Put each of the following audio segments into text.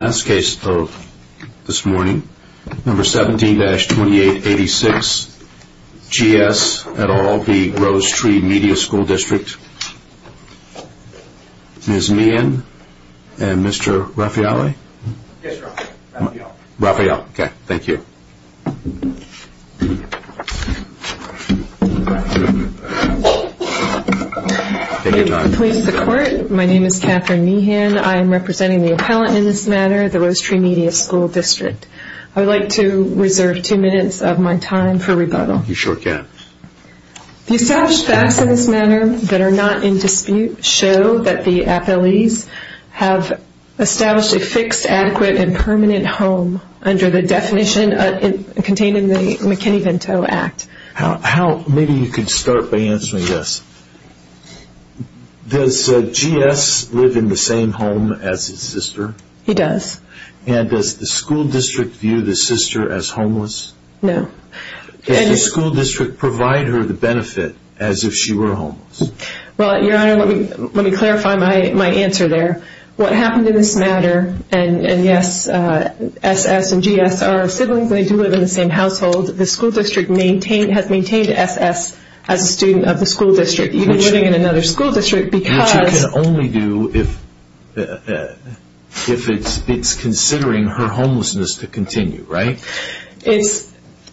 Last case of this morning, No. 17-2886, G.S. et al. v. Rose Tree Media School District. Ms. Meehan and Mr. Raffaele? Yes, sir. Raffaele. Raffaele. Okay. Thank you. Please support. My name is Catherine Meehan. I am representing the appellant in this matter, the Rose Tree Media School District. I would like to reserve two minutes of my time for rebuttal. You sure can. The established facts in this matter that are not in dispute show that the appellees have established a fixed, adequate, and permanent home under the definition contained in the McKinney-Vento Act. Maybe you could start by answering this. Does G.S. live in the same home as his sister? He does. And does the school district view the sister as homeless? No. Does the school district provide her the benefit as if she were homeless? Well, Your Honor, let me clarify my answer there. What happened in this matter, and yes, S.S. and G.S. are siblings. They do live in the same household. The school district has maintained S.S. as a student of the school district, even living in another school district because Which you can only do if it's considering her homelessness to continue, right?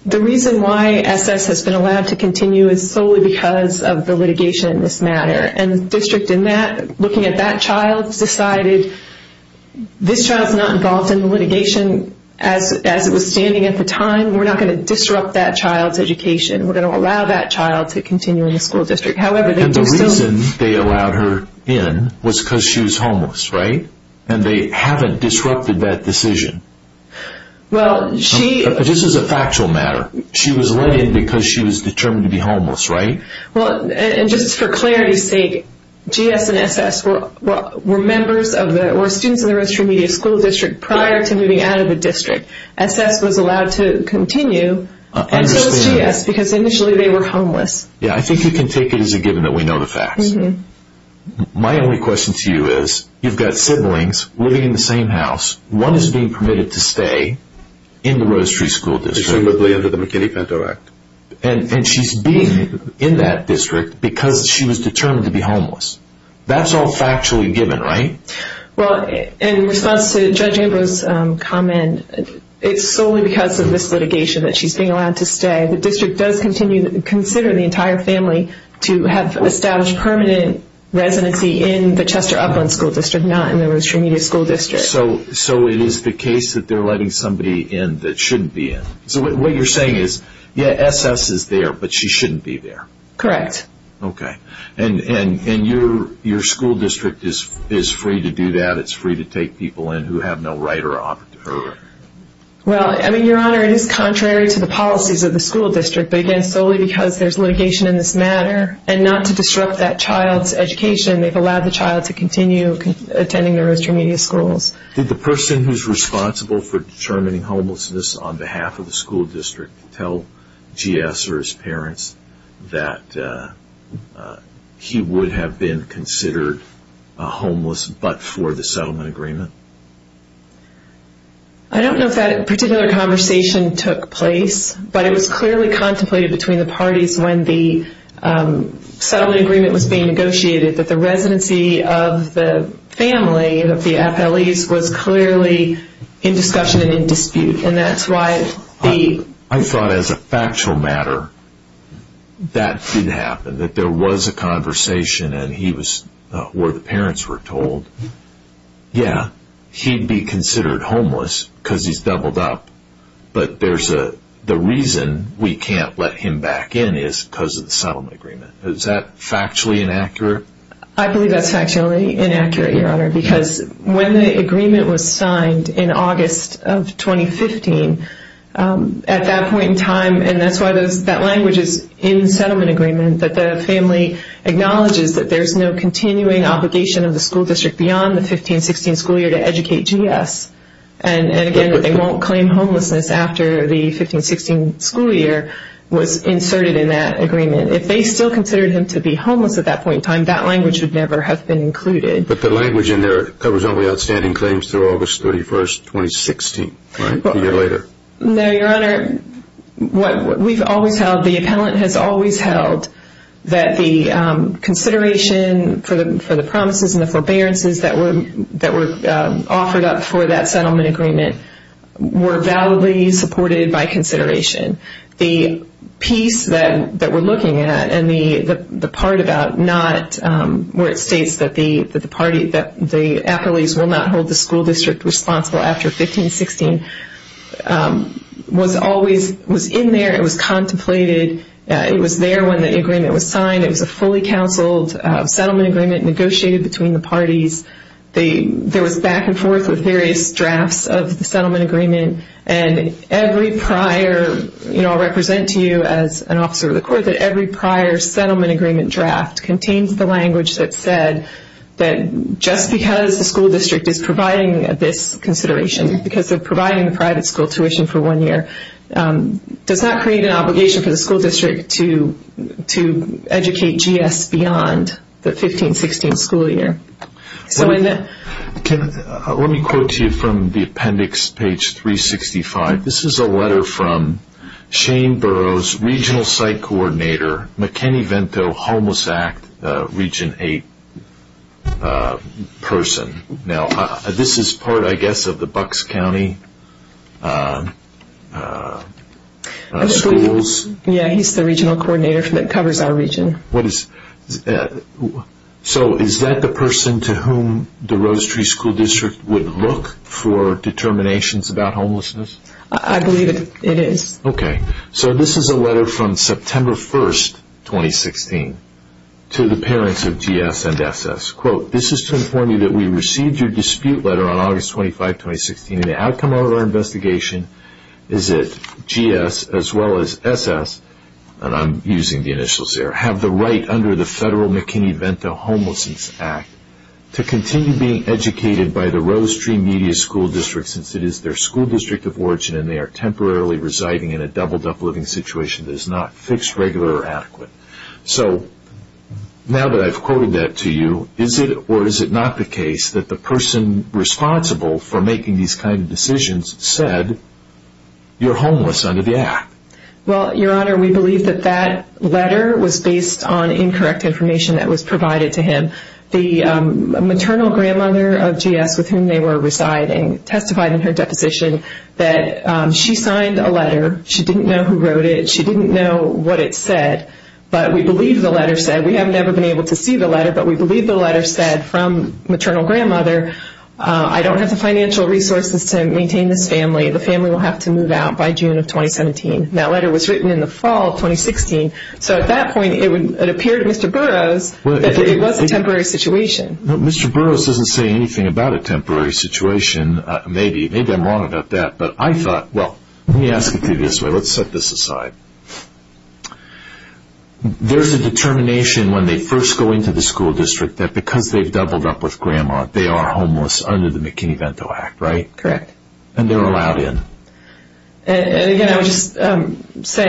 The reason why S.S. has been allowed to continue is solely because of the litigation in this matter. And the district in that, looking at that child, decided this child is not involved in the litigation as it was standing at the time. We're not going to disrupt that child's education. We're going to allow that child to continue in the school district. And the reason they allowed her in was because she was homeless, right? And they haven't disrupted that decision. Well, she... This is a factual matter. She was let in because she was determined to be homeless, right? Well, and just for clarity's sake, G.S. and S.S. were members of the, were students of the Rose Tree Media School District prior to moving out of the district. S.S. was allowed to continue, and so was G.S. because initially they were homeless. Yeah, I think you can take it as a given that we know the facts. My only question to you is, you've got siblings living in the same house. One is being permitted to stay in the Rose Tree School District. Presumably under the McKinney-Pinto Act. And she's being in that district because she was determined to be homeless. That's all factually given, right? Well, in response to Judge Ambrose's comment, it's solely because of this litigation that she's being allowed to stay. The district does continue to consider the entire family to have established permanent residency in the Chester Upland School District, not in the Rose Tree Media School District. So it is the case that they're letting somebody in that shouldn't be in. So what you're saying is, yeah, S.S. is there, but she shouldn't be there. Correct. Okay. And your school district is free to do that? It's free to take people in who have no right or opportunity? Well, I mean, Your Honor, it is contrary to the policies of the school district, but again, solely because there's litigation in this matter. And not to disrupt that child's education, they've allowed the child to continue attending the Rose Tree Media Schools. Did the person who's responsible for determining homelessness on behalf of the school district tell G.S. or his parents that he would have been considered homeless but for the settlement agreement? I don't know if that particular conversation took place, but it was clearly contemplated between the parties when the settlement agreement was being negotiated, that the residency of the family, of the appellees, was clearly in discussion and in dispute. And that's why the... I thought as a factual matter that didn't happen, that there was a conversation and he was, or the parents were told, yeah, he'd be considered homeless because he's doubled up, but the reason we can't let him back in is because of the settlement agreement. Is that factually inaccurate? I believe that's factually inaccurate, Your Honor, because when the agreement was signed in August of 2015, at that point in time, and that's why that language is in the settlement agreement, acknowledges that there's no continuing obligation of the school district beyond the 15-16 school year to educate G.S. And again, they won't claim homelessness after the 15-16 school year was inserted in that agreement. If they still considered him to be homeless at that point in time, that language would never have been included. But the language in there covers only outstanding claims through August 31, 2016, right? A year later. No, Your Honor. What we've always held, the appellant has always held that the consideration for the promises and the forbearances that were offered up for that settlement agreement were validly supported by consideration. The piece that we're looking at and the part about not... was always in there. It was contemplated. It was there when the agreement was signed. It was a fully counseled settlement agreement negotiated between the parties. There was back and forth with various drafts of the settlement agreement. And every prior, you know, I'll represent to you as an officer of the court, that every prior settlement agreement draft contains the language that said that just because the school district is providing the private school tuition for one year does not create an obligation for the school district to educate GS beyond the 15-16 school year. Let me quote to you from the appendix, page 365. This is a letter from Shane Burroughs, Regional Site Coordinator, McKinney-Vento Homeless Act Region 8 person. Now, this is part, I guess, of the Bucks County Schools. Yeah, he's the regional coordinator that covers our region. So is that the person to whom the Rose Tree School District would look for determinations about homelessness? I believe it is. Okay. So this is a letter from September 1, 2016 to the parents of GS and SS. Quote, this is to inform you that we received your dispute letter on August 25, 2016, and the outcome of our investigation is that GS, as well as SS, and I'm using the initials there, have the right under the Federal McKinney-Vento Homelessness Act to continue being educated by the Rose Tree Media School District since it is their school district of origin and they are temporarily residing in a doubled-up living situation So, now that I've quoted that to you, is it or is it not the case that the person responsible for making these kind of decisions said, you're homeless under the Act? Well, Your Honor, we believe that that letter was based on incorrect information that was provided to him. The maternal grandmother of GS with whom they were residing testified in her deposition that she signed a letter, she didn't know who wrote it, she didn't know what it said, but we believe the letter said, we have never been able to see the letter, but we believe the letter said from maternal grandmother, I don't have the financial resources to maintain this family. The family will have to move out by June of 2017. That letter was written in the fall of 2016. So at that point, it appeared to Mr. Burroughs that it was a temporary situation. Mr. Burroughs doesn't say anything about a temporary situation. Maybe I'm wrong about that, but I thought, well, let me ask it to you this way. Let's set this aside. There's a determination when they first go into the school district that because they've doubled up with grandma, they are homeless under the McKinney-Vento Act, right? Correct. And they're allowed in. And again, I would just say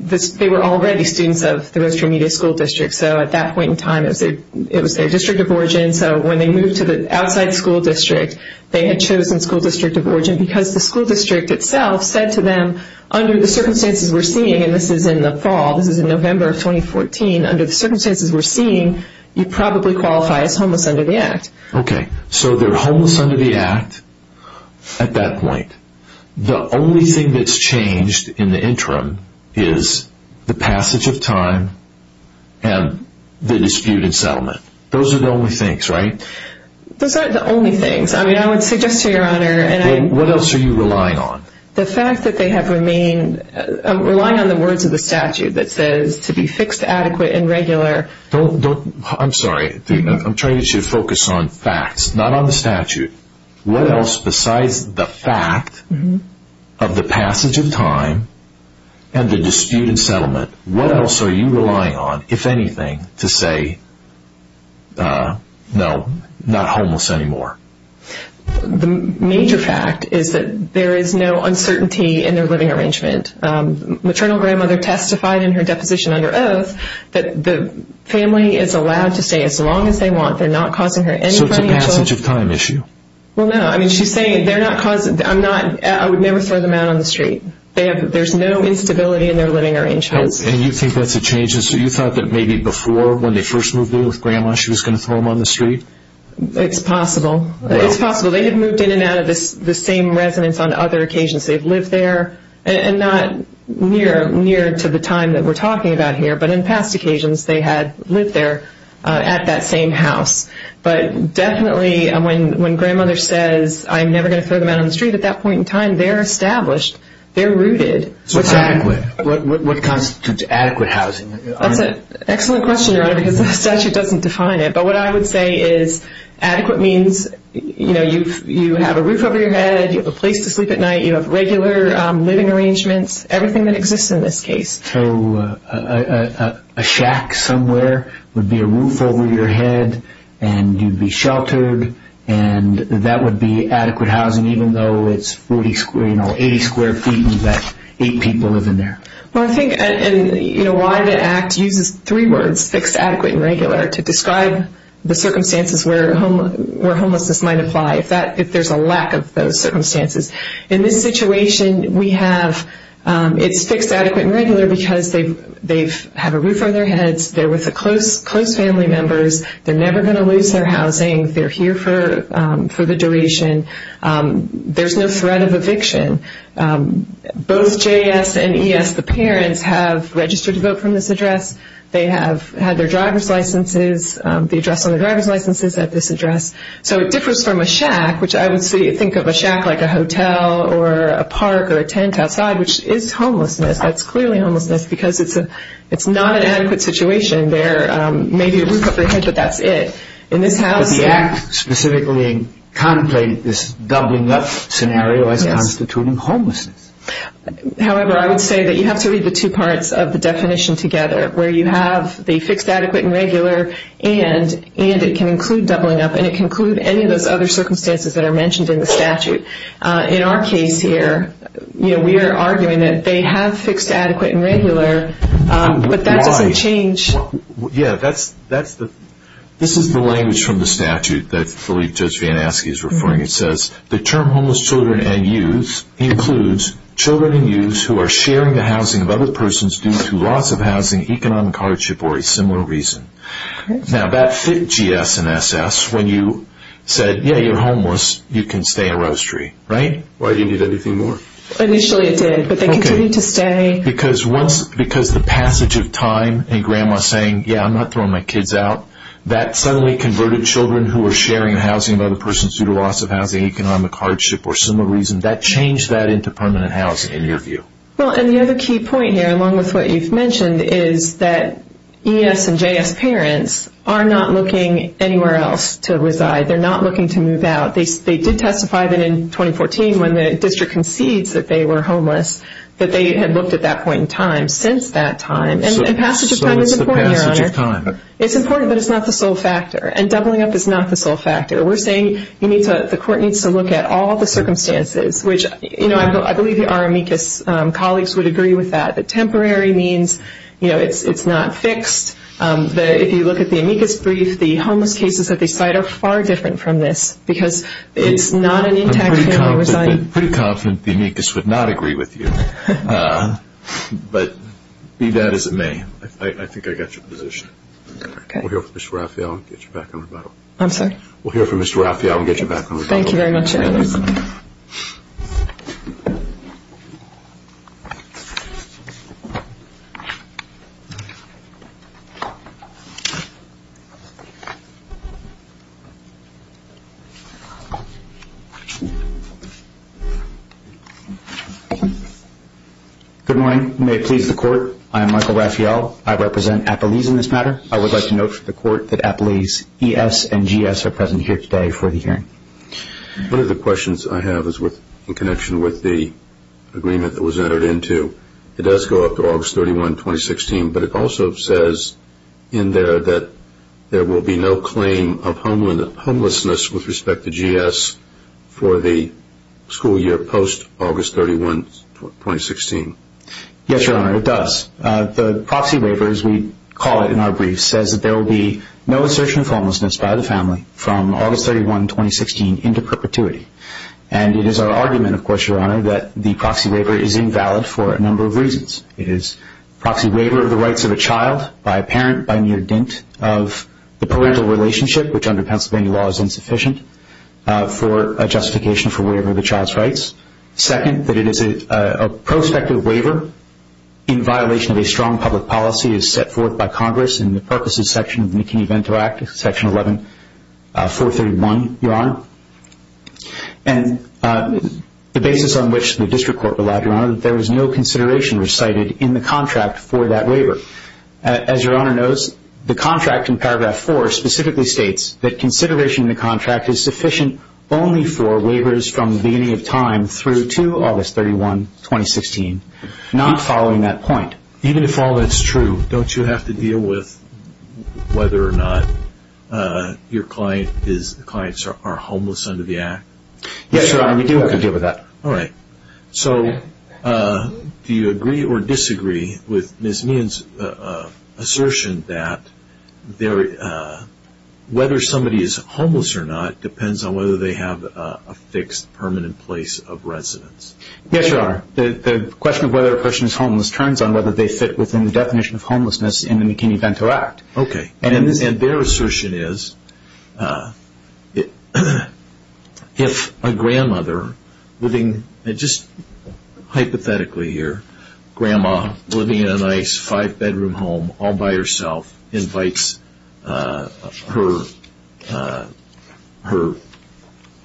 that they were already students of the Rose Tree Media School District, so at that point in time, it was their district of origin, so when they moved to the outside school district, they had chosen school district of origin because the school district itself said to them, under the circumstances we're seeing, and this is in the fall, this is in November of 2014, under the circumstances we're seeing, you probably qualify as homeless under the Act. Okay. So they're homeless under the Act at that point. The only thing that's changed in the interim is the passage of time and the dispute and settlement. Those are the only things, right? Those aren't the only things. I mean, I would suggest to Your Honor, and I'm What else are you relying on? The fact that they have remained, relying on the words of the statute that says to be fixed, adequate, and regular. Don't, don't, I'm sorry, I'm trying to get you to focus on facts, not on the statute. What else besides the fact of the passage of time and the dispute and settlement, what else are you relying on, if anything, to say, no, not homeless anymore? The major fact is that there is no uncertainty in their living arrangement. Maternal grandmother testified in her deposition under oath that the family is allowed to stay as long as they want. They're not causing her any financial So it's a passage of time issue? Well, no. I mean, she's saying they're not causing, I'm not, I would never throw them out on the street. There's no instability in their living arrangements. And you think that's a change? So you thought that maybe before, when they first moved in with grandma, she was going to throw them on the street? It's possible. It's possible. They had moved in and out of the same residence on other occasions. They've lived there, and not near, near to the time that we're talking about here, but in past occasions, they had lived there at that same house. But definitely, when grandmother says, I'm never going to throw them out on the street, at that point in time, they're established, they're rooted. So what constitutes adequate housing? That's an excellent question, Your Honor, because the statute doesn't define it. But what I would say is adequate means, you know, you have a roof over your head, you have a place to sleep at night, you have regular living arrangements, everything that exists in this case. So a shack somewhere would be a roof over your head, and you'd be sheltered, and that would be adequate housing, even though it's 80 square feet and you've got eight people living there. Well, I think, you know, why the Act uses three words, fixed, adequate, and regular, to describe the circumstances where homelessness might apply, if there's a lack of those circumstances. In this situation, we have it's fixed, adequate, and regular because they have a roof over their heads, they're with close family members, they're never going to lose their housing, they're here for the duration, there's no threat of eviction. Both JS and ES, the parents, have registered to vote from this address. They have had their driver's licenses, the address on their driver's licenses at this address. So it differs from a shack, which I would think of a shack like a hotel or a park or a tent outside, which is homelessness, that's clearly homelessness, because it's not an adequate situation. There may be a roof over your head, but that's it. But the Act specifically contemplated this doubling up scenario as constituting homelessness. However, I would say that you have to read the two parts of the definition together, where you have the fixed, adequate, and regular, and it can include doubling up, and it can include any of those other circumstances that are mentioned in the statute. In our case here, you know, we are arguing that they have fixed, adequate, and regular, but that doesn't change. Yeah, that's the, this is the language from the statute that I believe Judge Van Aske is referring. It says, the term homeless children and youth includes children and youth who are sharing the housing of other persons due to loss of housing, economic hardship, or a similar reason. Now that fit GS and SS when you said, yeah, you're homeless, you can stay in a roastery, right? Why do you need anything more? Initially it did, but they continued to stay. Because once, because the passage of time and grandma saying, yeah, I'm not throwing my kids out, that suddenly converted children who were sharing housing of other persons due to loss of housing, economic hardship, or similar reason, that changed that into permanent housing, in your view. Well, and the other key point here, along with what you've mentioned, is that ES and JS parents are not looking anywhere else to reside. They're not looking to move out. They did testify that in 2014, when the district concedes that they were homeless, that they had looked at that point in time since that time. And passage of time is important, Your Honor. So what's the passage of time? It's important, but it's not the sole factor. And doubling up is not the sole factor. We're saying the court needs to look at all the circumstances, which I believe our amicus colleagues would agree with that, that temporary means it's not fixed. If you look at the amicus brief, the homeless cases that they cite are far different from this, because it's not an intact family residing. I'm pretty confident the amicus would not agree with you, but be that as it may, I think I got your position. Okay. We'll hear from Mr. Raphael and get you back on rebuttal. I'm sorry? We'll hear from Mr. Raphael and get you back on rebuttal. Thank you very much, Your Honor. Thank you. Good morning. You may please the court. I'm Michael Raphael. I represent Apolese in this matter. I would like to note for the court that Apolese ES and GS are present here today for the hearing. One of the questions I have is in connection with the agreement that was entered into. It does go up to August 31, 2016, but it also says in there that there will be no claim of homelessness with respect to GS for the school year post-August 31, 2016. Yes, Your Honor, it does. The proxy waiver, as we call it in our briefs, says that there will be no assertion of homelessness by the family from August 31, 2016 into perpetuity. And it is our argument, of course, Your Honor, that the proxy waiver is invalid for a number of reasons. It is a proxy waiver of the rights of a child by a parent by near dint of the parental relationship, which under Pennsylvania law is insufficient for a justification for waiver of the child's rights. Second, that it is a prospective waiver in violation of a strong public policy as set forth by Congress in the Purposes Section of the McKinney-Vento Act, Section 11-431, Your Honor. And the basis on which the district court relied, Your Honor, that there was no consideration recited in the contract for that waiver. As Your Honor knows, the contract in Paragraph 4 specifically states that consideration in the contract is sufficient only for waivers from the beginning of time through to August 31, 2016, not following that point. Even if all that's true, don't you have to deal with whether or not your clients are homeless under the Act? Yes, Your Honor, we do have to deal with that. All right. So do you agree or disagree with Ms. Meehan's assertion that whether somebody is homeless or not depends on whether they have a fixed permanent place of residence? Yes, Your Honor. The question of whether a person is homeless turns on whether they fit within the definition of homelessness in the McKinney-Vento Act. Okay. And their assertion is if a grandmother living, just hypothetically here, grandma living in a nice five-bedroom home all by herself invites her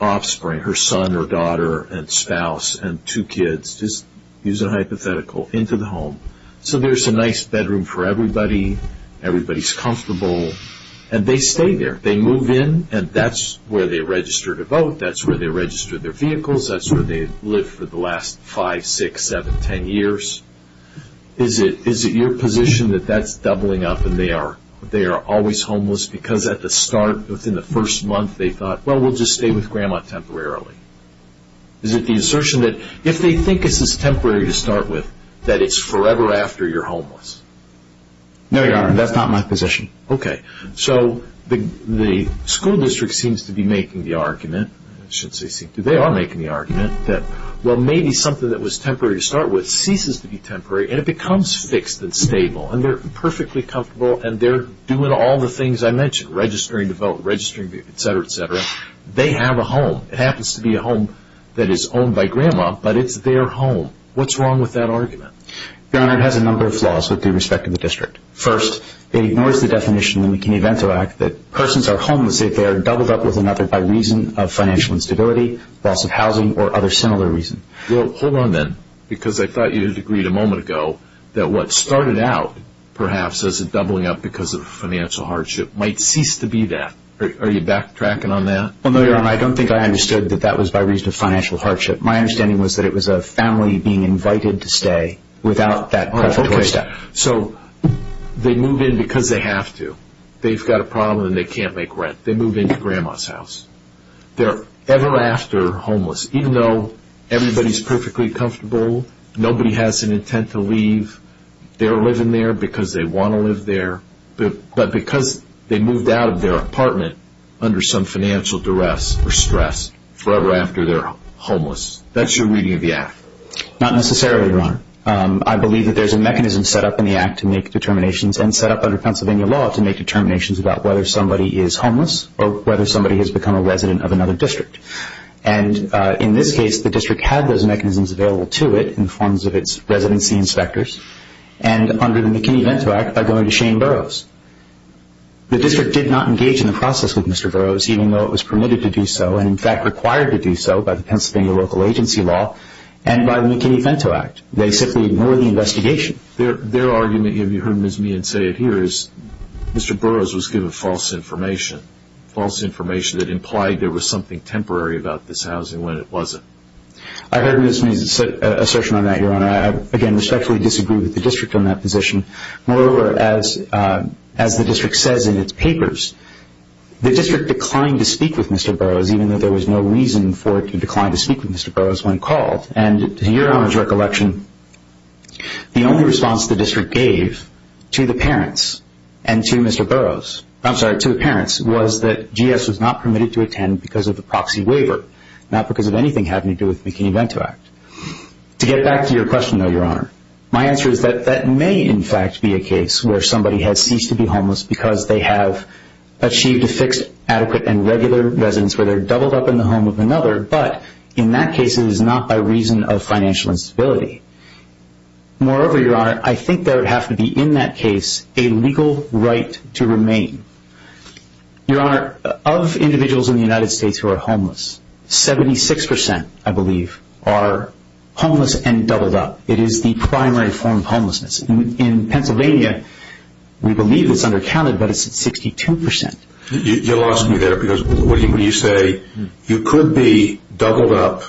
offspring, her son or daughter and spouse and two kids, just use a hypothetical, into the home so there's a nice bedroom for everybody, everybody's comfortable, and they stay there. They move in and that's where they register to vote, that's where they register their vehicles, that's where they've lived for the last five, six, seven, ten years. Is it your position that that's doubling up and they are always homeless because at the start, within the first month, they thought, well, we'll just stay with grandma temporarily? Is it the assertion that if they think this is temporary to start with, that it's forever after you're homeless? No, Your Honor, that's not my position. Okay. So the school district seems to be making the argument, they are making the argument, that well, maybe something that was temporary to start with ceases to be temporary and it becomes fixed and stable and they're perfectly comfortable and they're doing all the things I mentioned, registering to vote, etc., etc. They have a home. It happens to be a home that is owned by grandma, but it's their home. What's wrong with that argument? Your Honor, it has a number of flaws with respect to the district. First, it ignores the definition in the McKinney-Vento Act that persons are homeless if they are doubled up with another by reason of financial instability, loss of housing, or other similar reasons. Well, hold on then, because I thought you had agreed a moment ago that what started out perhaps as a doubling up because of financial hardship might cease to be that. Are you backtracking on that? No, Your Honor, I don't think I understood that that was by reason of financial hardship. My understanding was that it was a family being invited to stay without that preparation. So they move in because they have to. They've got a problem and they can't make rent. They move into grandma's house. They're ever after homeless, even though everybody is perfectly comfortable, nobody has an intent to leave, they're living there because they want to live there, but because they moved out of their apartment under some financial duress or stress forever after they're homeless. That's your reading of the Act. Not necessarily, Your Honor. I believe that there's a mechanism set up in the Act to make determinations and set up under Pennsylvania law to make determinations about whether somebody is homeless or whether somebody has become a resident of another district. And in this case, the district had those mechanisms available to it in the forms of its residency inspectors. And under the McKinney-Vento Act, by going to Shane Burroughs. The district did not engage in the process with Mr. Burroughs, even though it was permitted to do so and, in fact, required to do so by the Pennsylvania local agency law and by the McKinney-Vento Act. They simply ignored the investigation. Their argument, if you heard Ms. Meehan say it here, is Mr. Burroughs was given false information, false information that implied there was something temporary about this housing when it wasn't. I heard Ms. Meehan's assertion on that, Your Honor. I, again, respectfully disagree with the district on that position. Moreover, as the district says in its papers, the district declined to speak with Mr. Burroughs, even though there was no reason for it to decline to speak with Mr. Burroughs when called. And to Your Honor's recollection, the only response the district gave to the parents and to Mr. Burroughs, I'm sorry, to the parents, was that GS was not permitted to attend because of the proxy waiver, not because of anything having to do with the McKinney-Vento Act. To get back to your question, though, Your Honor, my answer is that that may, in fact, be a case where somebody has ceased to be homeless because they have achieved a fixed, adequate, and regular residence where they're doubled up in the home of another, but in that case it is not by reason of financial instability. Moreover, Your Honor, I think there would have to be, in that case, a legal right to remain. Your Honor, of individuals in the United States who are homeless, 76%, I believe, are homeless and doubled up. It is the primary form of homelessness. In Pennsylvania, we believe it's undercounted, but it's 62%. You lost me there because when you say you could be doubled up,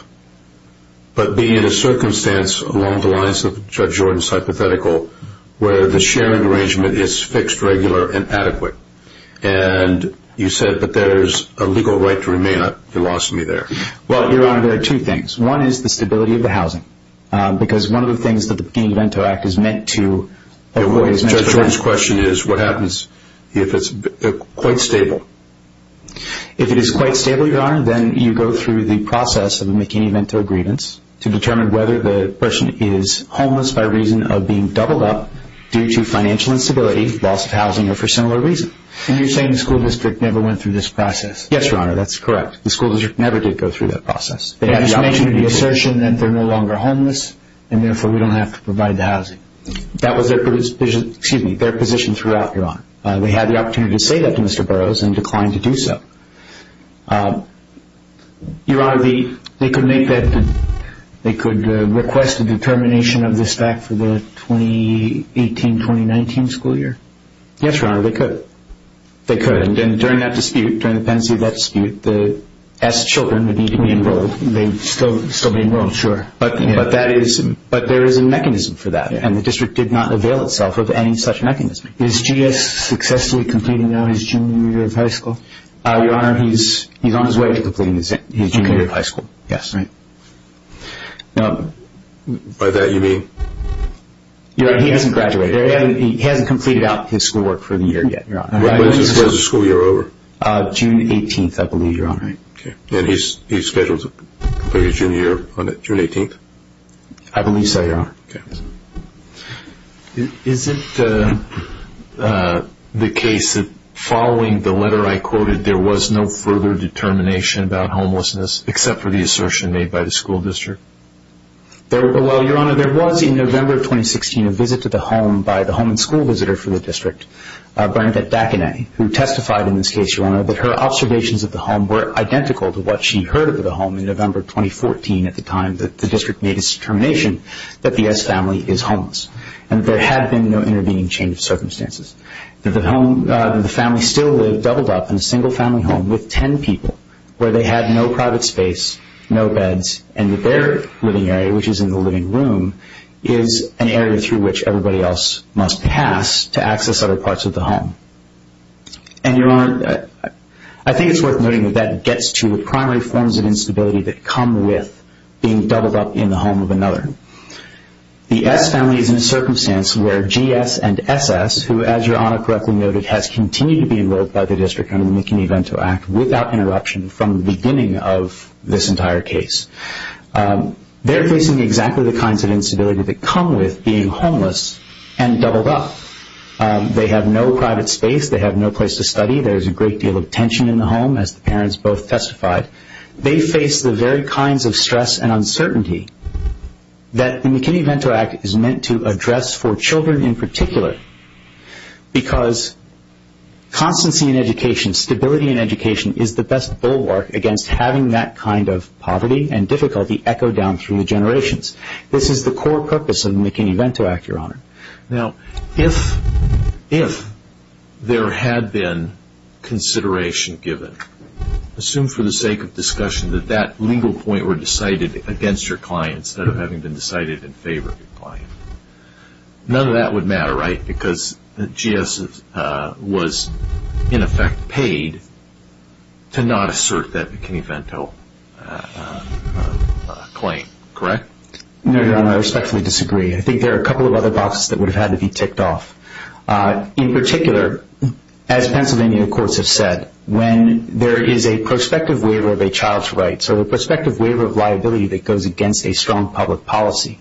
but be in a circumstance along the lines of Judge Jordan's hypothetical where the sharing arrangement is fixed, regular, and adequate, and you said, but there's a legal right to remain, you lost me there. Well, Your Honor, there are two things. One is the stability of the housing, because one of the things that the McKinney-Vento Act is meant to avoid. Judge Jordan's question is, what happens if it's quite stable? If it is quite stable, Your Honor, then you go through the process of McKinney-Vento grievance to determine whether the person is homeless by reason of being doubled up due to financial instability, loss of housing, or for similar reasons. And you're saying the school district never went through this process? Yes, Your Honor, that's correct. The school district never did go through that process. They just mentioned in the assertion that they're no longer homeless, and therefore we don't have to provide the housing. That was their position throughout, Your Honor. They had the opportunity to say that to Mr. Burroughs and declined to do so. Your Honor, they could request a determination of this back for the 2018-2019 school year? Yes, Your Honor, they could. They could, and during that dispute, during the pendency of that dispute, the S children would need to be enrolled. They'd still be enrolled. Sure. But there is a mechanism for that, and the district did not avail itself of any such mechanism. Is GS successfully completing now his junior year of high school? Your Honor, he's on his way to completing his junior year of high school. Yes. By that you mean? Your Honor, he hasn't graduated. He hasn't completed out his school work for the year yet, Your Honor. When is the school year over? June 18th, I believe, Your Honor. Okay. And he's scheduled to complete his junior year on June 18th? I believe so, Your Honor. Okay. Is it the case that following the letter I quoted, there was no further determination about homelessness, except for the assertion made by the school district? Well, Your Honor, there was, in November of 2016, a visit to the home by the home and school visitor for the district, Bernadette Dacanet, who testified in this case, Your Honor, that her observations of the home were identical to what she heard of the home in November of 2014, at the time that the district made its determination that the S family is homeless and that there had been no intervening change of circumstances, that the family still lived doubled up in a single family home with ten people, where they had no private space, no beds, and that their living area, which is in the living room, is an area through which everybody else must pass to access other parts of the home. And, Your Honor, I think it's worth noting that that gets to the primary forms of instability that come with being doubled up in the home of another. The S family is in a circumstance where GS and SS, who, as Your Honor correctly noted, has continued to be enrolled by the district under the McKinney-Vento Act without interruption from the beginning of this entire case. They're facing exactly the kinds of instability that come with being homeless and doubled up. They have no private space. They have no place to study. There is a great deal of tension in the home, as the parents both testified. They face the very kinds of stress and uncertainty that the McKinney-Vento Act is meant to address for children in particular because constancy in education, stability in education, is the best bulwark against having that kind of poverty and difficulty echo down through the generations. This is the core purpose of the McKinney-Vento Act, Your Honor. Now, if there had been consideration given, assume for the sake of discussion that that legal point were decided against your client instead of having been decided in favor of your client. None of that would matter, right? Because GS was, in effect, paid to not assert that McKinney-Vento claim, correct? No, Your Honor. I respectfully disagree. I think there are a couple of other boxes that would have had to be ticked off. In particular, as Pennsylvania courts have said, when there is a prospective waiver of a child's rights or a prospective waiver of liability that goes against a strong public policy.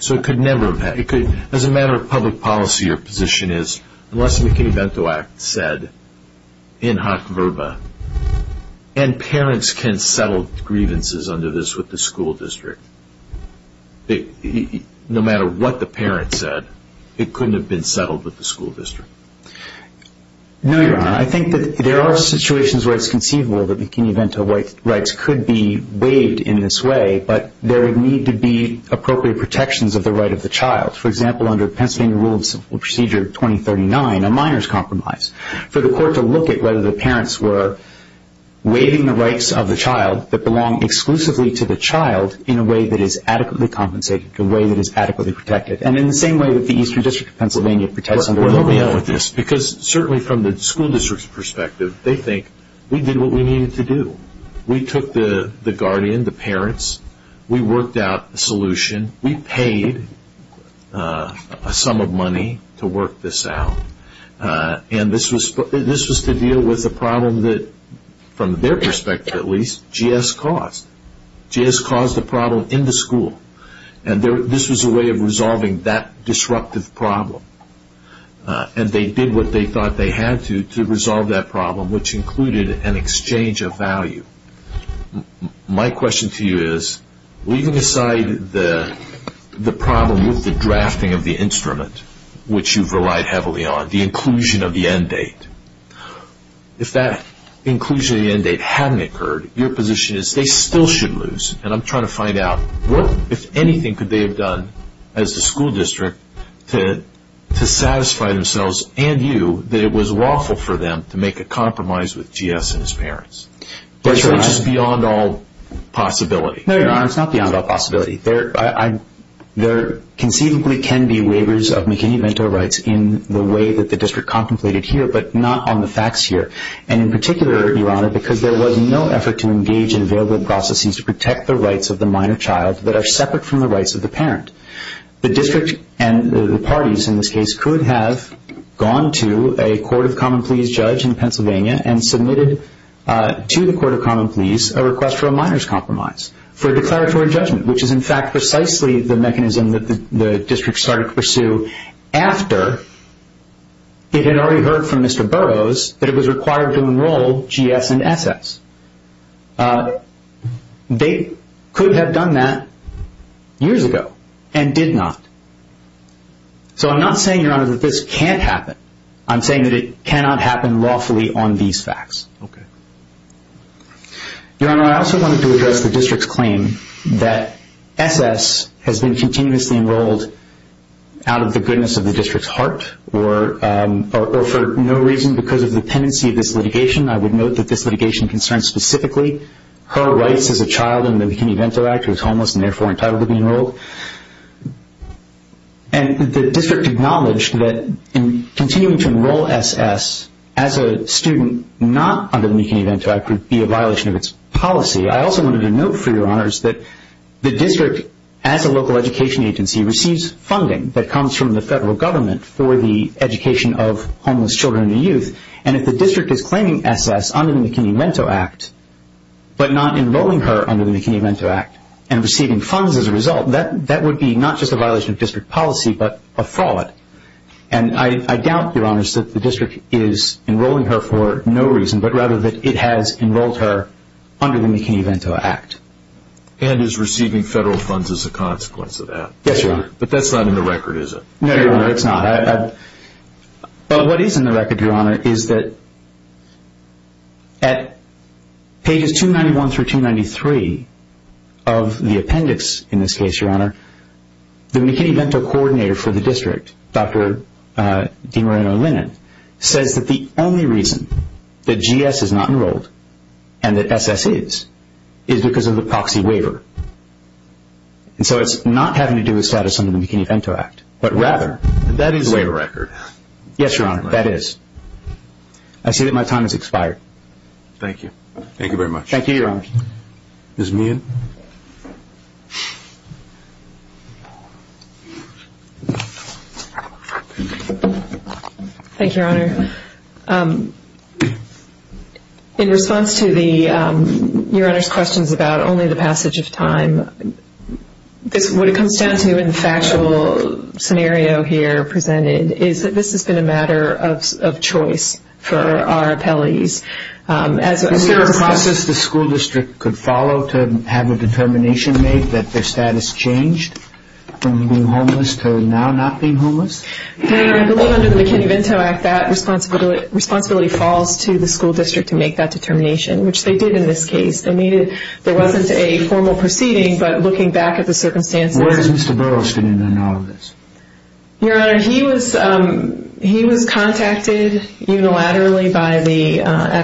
So it could never have happened. As a matter of public policy, your position is, unless the McKinney-Vento Act is said in hot verba, and parents can settle grievances under this with the school district, no matter what the parent said, it couldn't have been settled with the school district. No, Your Honor. I think that there are situations where it's conceivable that McKinney-Vento rights could be waived in this way, but there would need to be appropriate protections of the right of the child. For example, under Pennsylvania Rule of Civil Procedure 2039, a minor's compromise, for the court to look at whether the parents were waiving the rights of the child that belong exclusively to the child in a way that is adequately compensated, in a way that is adequately protected, and in the same way that the Eastern District of Pennsylvania protects under the law. Well, let me end with this, because certainly from the school district's perspective, they think we did what we needed to do. We took the guardian, the parents. We worked out a solution. We paid a sum of money to work this out. And this was to deal with a problem that, from their perspective at least, GS caused. GS caused the problem in the school, and this was a way of resolving that disruptive problem. And they did what they thought they had to to resolve that problem, which included an exchange of value. My question to you is, leaving aside the problem with the drafting of the instrument, which you've relied heavily on, the inclusion of the end date, if that inclusion of the end date hadn't occurred, your position is they still should lose. And I'm trying to find out what, if anything, could they have done as the school district to satisfy themselves and you that it was lawful for them to make a compromise with GS and his parents. That's right. Which is beyond all possibility. No, no, no, it's not beyond all possibility. There conceivably can be waivers of McKinney-Vento rights in the way that the district contemplated here, but not on the facts here, and in particular, Your Honor, because there was no effort to engage in available processes to protect the rights of the minor child that are separate from the rights of the parent. The district and the parties in this case could have gone to a court of common pleas judge in Pennsylvania and submitted to the court of common pleas a request for a minor's compromise for a declaratory judgment, which is, in fact, precisely the mechanism that the district started to pursue after it had already heard from Mr. Burroughs that it was required to enroll GS and SS. They could have done that years ago and did not. So I'm not saying, Your Honor, that this can't happen. I'm saying that it cannot happen lawfully on these facts. Okay. Your Honor, I also wanted to address the district's claim that SS has been continuously enrolled out of the goodness of the district's heart or for no reason because of the tendency of this litigation. I would note that this litigation concerns specifically her rights as a child in the McKinney-Vento Act, and the district acknowledged that continuing to enroll SS as a student not under the McKinney-Vento Act would be a violation of its policy. I also wanted to note, for Your Honors, that the district, as a local education agency, receives funding that comes from the federal government for the education of homeless children and youth, and if the district is claiming SS under the McKinney-Vento Act but not enrolling her under the McKinney-Vento Act and receiving funds as a result, that would be not just a violation of district policy but a fraud. And I doubt, Your Honors, that the district is enrolling her for no reason but rather that it has enrolled her under the McKinney-Vento Act. And is receiving federal funds as a consequence of that? Yes, Your Honor. But that's not in the record, is it? No, Your Honor, it's not. But what is in the record, Your Honor, is that at pages 291 through 293 of the appendix, in this case, Your Honor, the McKinney-Vento coordinator for the district, Dr. DeMoreno-Lennon, says that the only reason that GS is not enrolled and that SS is is because of the proxy waiver. And so it's not having to do with status under the McKinney-Vento Act but rather the waiver record. That is in the record. Yes, Your Honor, that is. I see that my time has expired. Thank you. Thank you very much. Thank you, Your Honor. Ms. Meehan. Thank you, Your Honor. Thank you, Your Honor. In response to Your Honor's questions about only the passage of time, what it comes down to in the factual scenario here presented is that this has been a matter of choice for our appellees. Is there a process the school district could follow to have a determination made that their status changed from being homeless to now not being homeless? Your Honor, I believe under the McKinney-Vento Act that responsibility falls to the school district to make that determination, which they did in this case. There wasn't a formal proceeding, but looking back at the circumstances. Where is Mr. Burroughs standing on all of this? Your Honor, he was contacted unilaterally by the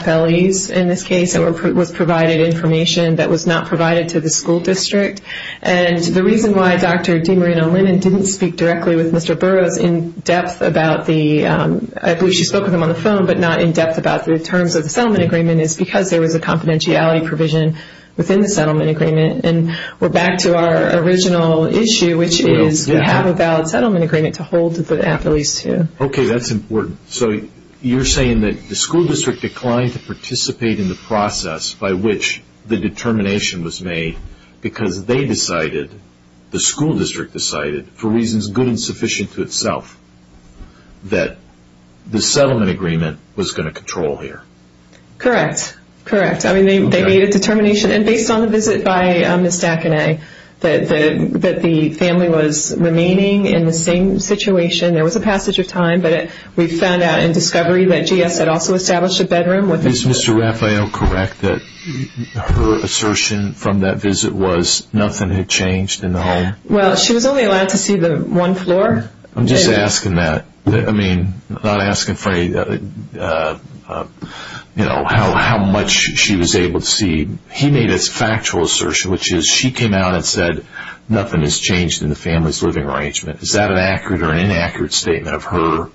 FLEs in this case and was provided information that was not provided to the school district. And the reason why Dr. DeMarino-Lennon didn't speak directly with Mr. Burroughs in depth about the, I believe she spoke with him on the phone but not in depth about the terms of the settlement agreement, is because there was a confidentiality provision within the settlement agreement. And we're back to our original issue, which is we have a valid settlement agreement to hold the appellees to. Okay. That's important. So you're saying that the school district declined to participate in the process by which the determination was made because they decided, the school district decided, for reasons good and sufficient to itself, that the settlement agreement was going to control here? Correct. Correct. I mean, they made a determination. And based on the visit by Ms. Dackeney, that the family was remaining in the same situation. There was a passage of time, but we found out in discovery that GS had also established a bedroom. Is Mr. Raphael correct that her assertion from that visit was nothing had changed in the home? Well, she was only allowed to see the one floor. I'm just asking that. I mean, not asking for how much she was able to see. He made a factual assertion, which is she came out and said, nothing has changed in the family's living arrangement. Is that an accurate or an inaccurate statement of her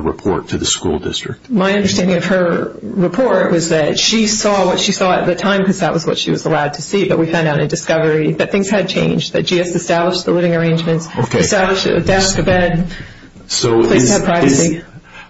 report to the school district? My understanding of her report was that she saw what she saw at the time because that was what she was allowed to see, but we found out in discovery that things had changed, that GS established the living arrangements, established a desk, a bed, places to have privacy.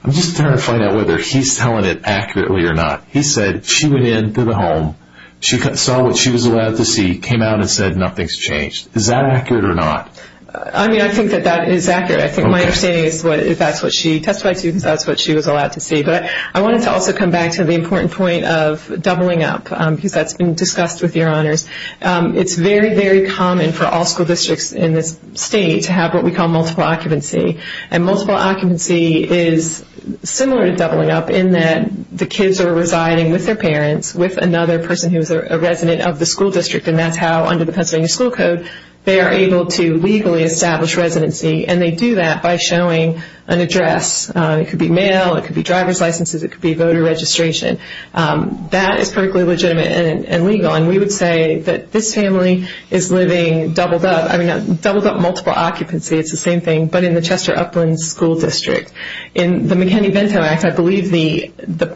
I'm just trying to find out whether he's telling it accurately or not. He said she went into the home, she saw what she was allowed to see, came out and said nothing has changed. Is that accurate or not? I mean, I think that that is accurate. I think my understanding is that's what she testified to because that's what she was allowed to see. But I wanted to also come back to the important point of doubling up because that's been discussed with your honors. It's very, very common for all school districts in this state to have what we call multiple occupancy, and multiple occupancy is similar to doubling up in that the kids are residing with their parents, with another person who is a resident of the school district, and that's how under the Pennsylvania school code they are able to legally establish residency, and they do that by showing an address. It could be mail. It could be driver's licenses. It could be voter registration. That is perfectly legitimate and legal, and we would say that this family is living doubled up. I mean, doubled up multiple occupancy, it's the same thing, but in the Chester Upland School District. In the McKinney-Vento Act, I believe the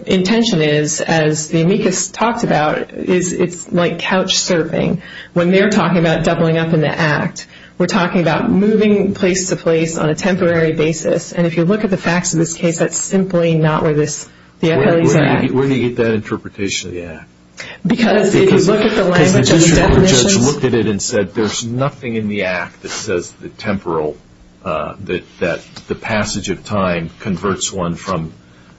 intention is, as the amicus talked about, is it's like couch surfing. When they're talking about doubling up in the act, we're talking about moving place to place on a temporary basis, and if you look at the facts of this case, that's simply not where the appellee is at. Where do you get that interpretation of the act? Because if you look at the language of the definitions. Because the district court judge looked at it and said there's nothing in the act that says the temporal, that the passage of time converts one from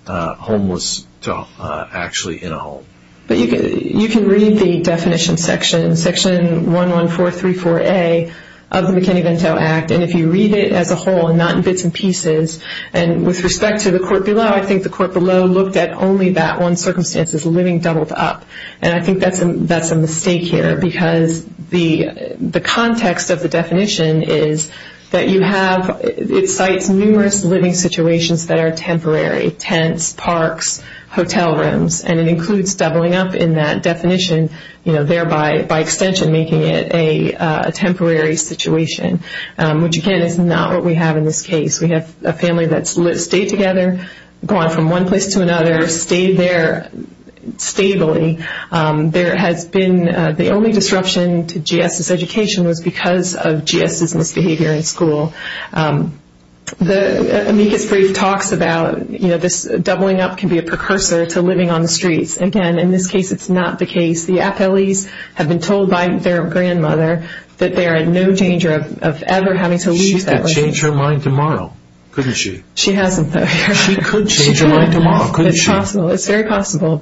homeless to actually in a home. But you can read the definition section, section 11434A of the McKinney-Vento Act, and if you read it as a whole and not in bits and pieces, and with respect to the court below, I think the court below looked at only that one circumstance as living doubled up, and I think that's a mistake here because the context of the definition is that you have, it cites numerous living situations that are temporary, tents, parks, hotel rooms, and it includes doubling up in that definition there by extension making it a temporary situation, which again is not what we have in this case. We have a family that's stayed together, gone from one place to another, stayed there stably. There has been, the only disruption to GS's education was because of GS's misbehavior in school. The amicus brief talks about this doubling up can be a precursor to living on the streets. Again, in this case it's not the case. The appellees have been told by their grandmother that they are in no danger of ever having to leave that residence. She could change her mind tomorrow, couldn't she? She hasn't, though. She could change her mind tomorrow, couldn't she? It's possible. It's very possible. If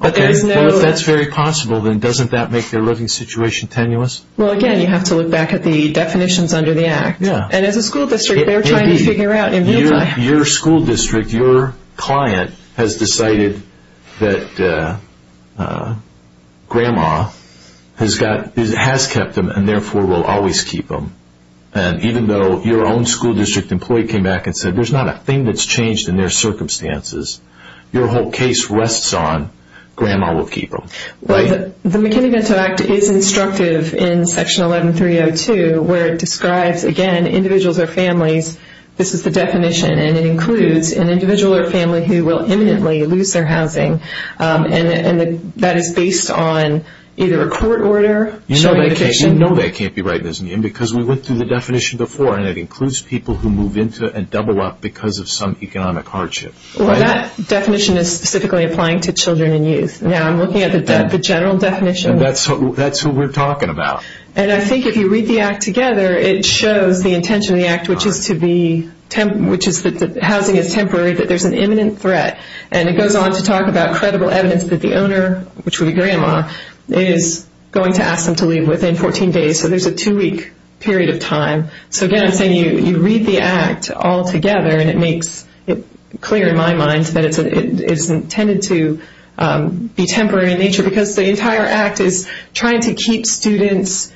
that's very possible, then doesn't that make their living situation tenuous? Well, again, you have to look back at the definitions under the act. And as a school district, they're trying to figure out. Your school district, your client has decided that grandma has kept them and therefore will always keep them. And even though your own school district employee came back and said, there's not a thing that's changed in their circumstances. Your whole case rests on grandma will keep them. The McKinney-Vento Act is instructive in Section 11302 where it describes, again, individuals or families. This is the definition. And it includes an individual or family who will imminently lose their housing. And that is based on either a court order. You know that can't be right, because we went through the definition before. And it includes people who move into and double up because of some economic hardship. Well, that definition is specifically applying to children and youth. Now, I'm looking at the general definition. And that's who we're talking about. And I think if you read the act together, it shows the intention of the act, which is that housing is temporary, that there's an imminent threat. And it goes on to talk about credible evidence that the owner, which would be grandma, is going to ask them to leave within 14 days. So there's a two-week period of time. So, again, I'm saying you read the act all together, and it makes it clear in my mind that it's intended to be temporary in nature, because the entire act is trying to keep students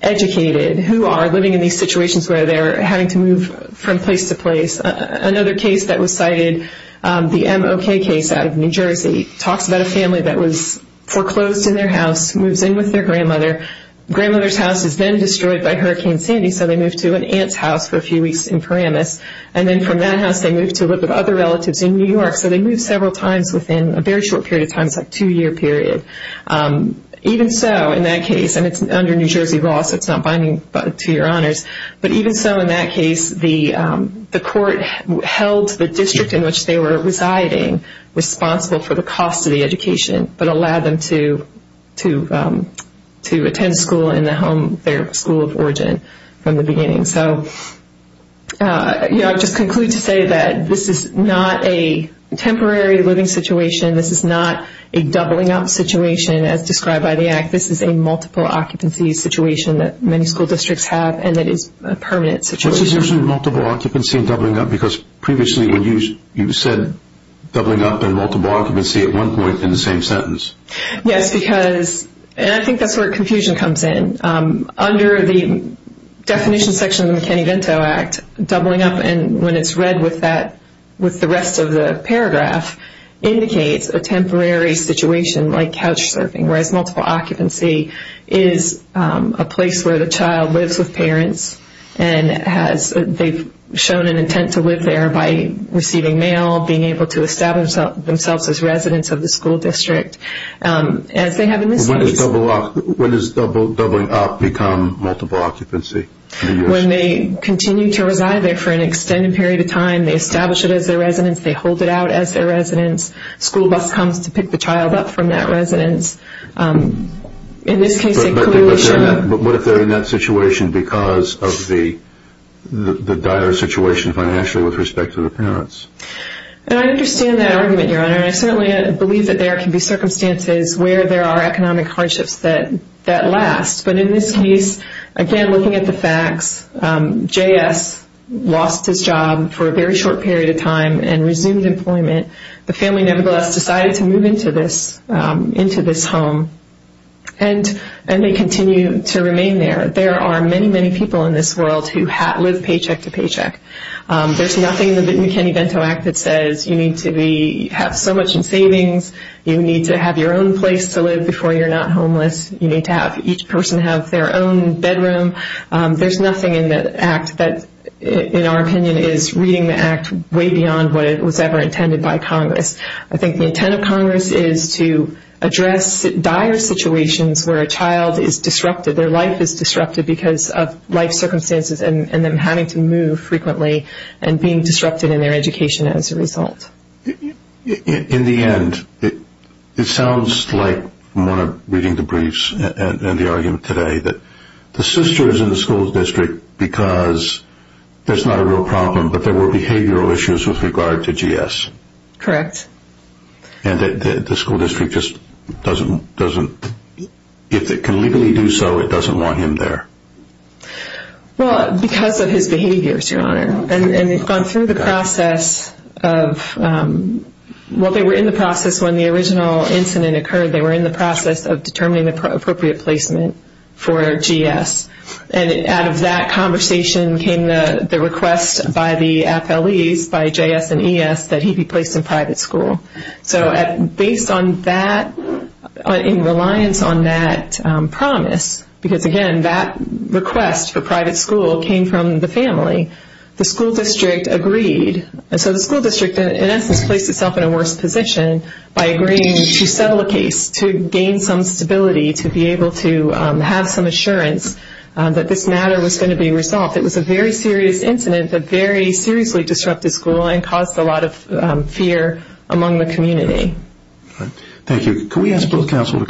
educated who are living in these situations where they're having to move from place to place. Another case that was cited, the MOK case out of New Jersey, talks about a family that was foreclosed in their house, moves in with their grandmother. Grandmother's house is then destroyed by Hurricane Sandy, so they move to an aunt's house for a few weeks in Paramus. And then from that house, they move to live with other relatives in New York. So they move several times within a very short period of time. It's like a two-year period. Even so, in that case, and it's under New Jersey law, so it's not binding to your honors, but even so, in that case, the court held the district in which they were residing responsible for the cost of the education, but allowed them to attend school in their school of origin from the beginning. So I'll just conclude to say that this is not a temporary living situation. This is not a doubling up situation as described by the act. This is a multiple occupancy situation that many school districts have, and that is a permanent situation. What's the difference between multiple occupancy and doubling up? Because previously you said doubling up and multiple occupancy at one point in the same sentence. Yes, because, and I think that's where confusion comes in. Under the definition section of the McKinney-Vento Act, doubling up when it's read with the rest of the paragraph indicates a temporary situation like couch surfing, whereas multiple occupancy is a place where the child lives with parents and they've shown an intent to live there by receiving mail, being able to establish themselves as residents of the school district. When does doubling up become multiple occupancy? When they continue to reside there for an extended period of time, they establish it as their residence, they hold it out as their residence, school bus comes to pick the child up from that residence. But what if they're in that situation because of the dire situation financially with respect to the parents? I understand that argument, Your Honor. I certainly believe that there can be circumstances where there are economic hardships that last. But in this case, again, looking at the facts, J.S. lost his job for a very short period of time and resumed employment. The family nevertheless decided to move into this home and they continue to remain there. There are many, many people in this world who live paycheck to paycheck. There's nothing in the McKinney-Vento Act that says you need to have so much in savings, you need to have your own place to live before you're not homeless, you need to have each person have their own bedroom. There's nothing in the Act that, in our opinion, is reading the Act way beyond what was ever intended by Congress. I think the intent of Congress is to address dire situations where a child is disrupted, their life is disrupted because of life circumstances and them having to move frequently and being disrupted in their education as a result. In the end, it sounds like, from what I'm reading the briefs and the argument today, that the sister is in the school district because there's not a real problem, but there were behavioral issues with regard to J.S. Correct. And the school district just doesn't, if it can legally do so, it doesn't want him there? Well, because of his behaviors, Your Honor. And they've gone through the process of, well, they were in the process, when the original incident occurred, they were in the process of determining the appropriate placement for J.S. And out of that conversation came the request by the appellees, by J.S. and E.S., that he be placed in private school. So based on that, in reliance on that promise, because, again, that request for private school came from the family, the school district agreed. So the school district, in essence, placed itself in a worse position by agreeing to settle a case, to gain some stability, to be able to have some assurance that this matter was going to be resolved. It was a very serious incident that very seriously disrupted school and caused a lot of fear among the community. Thank you.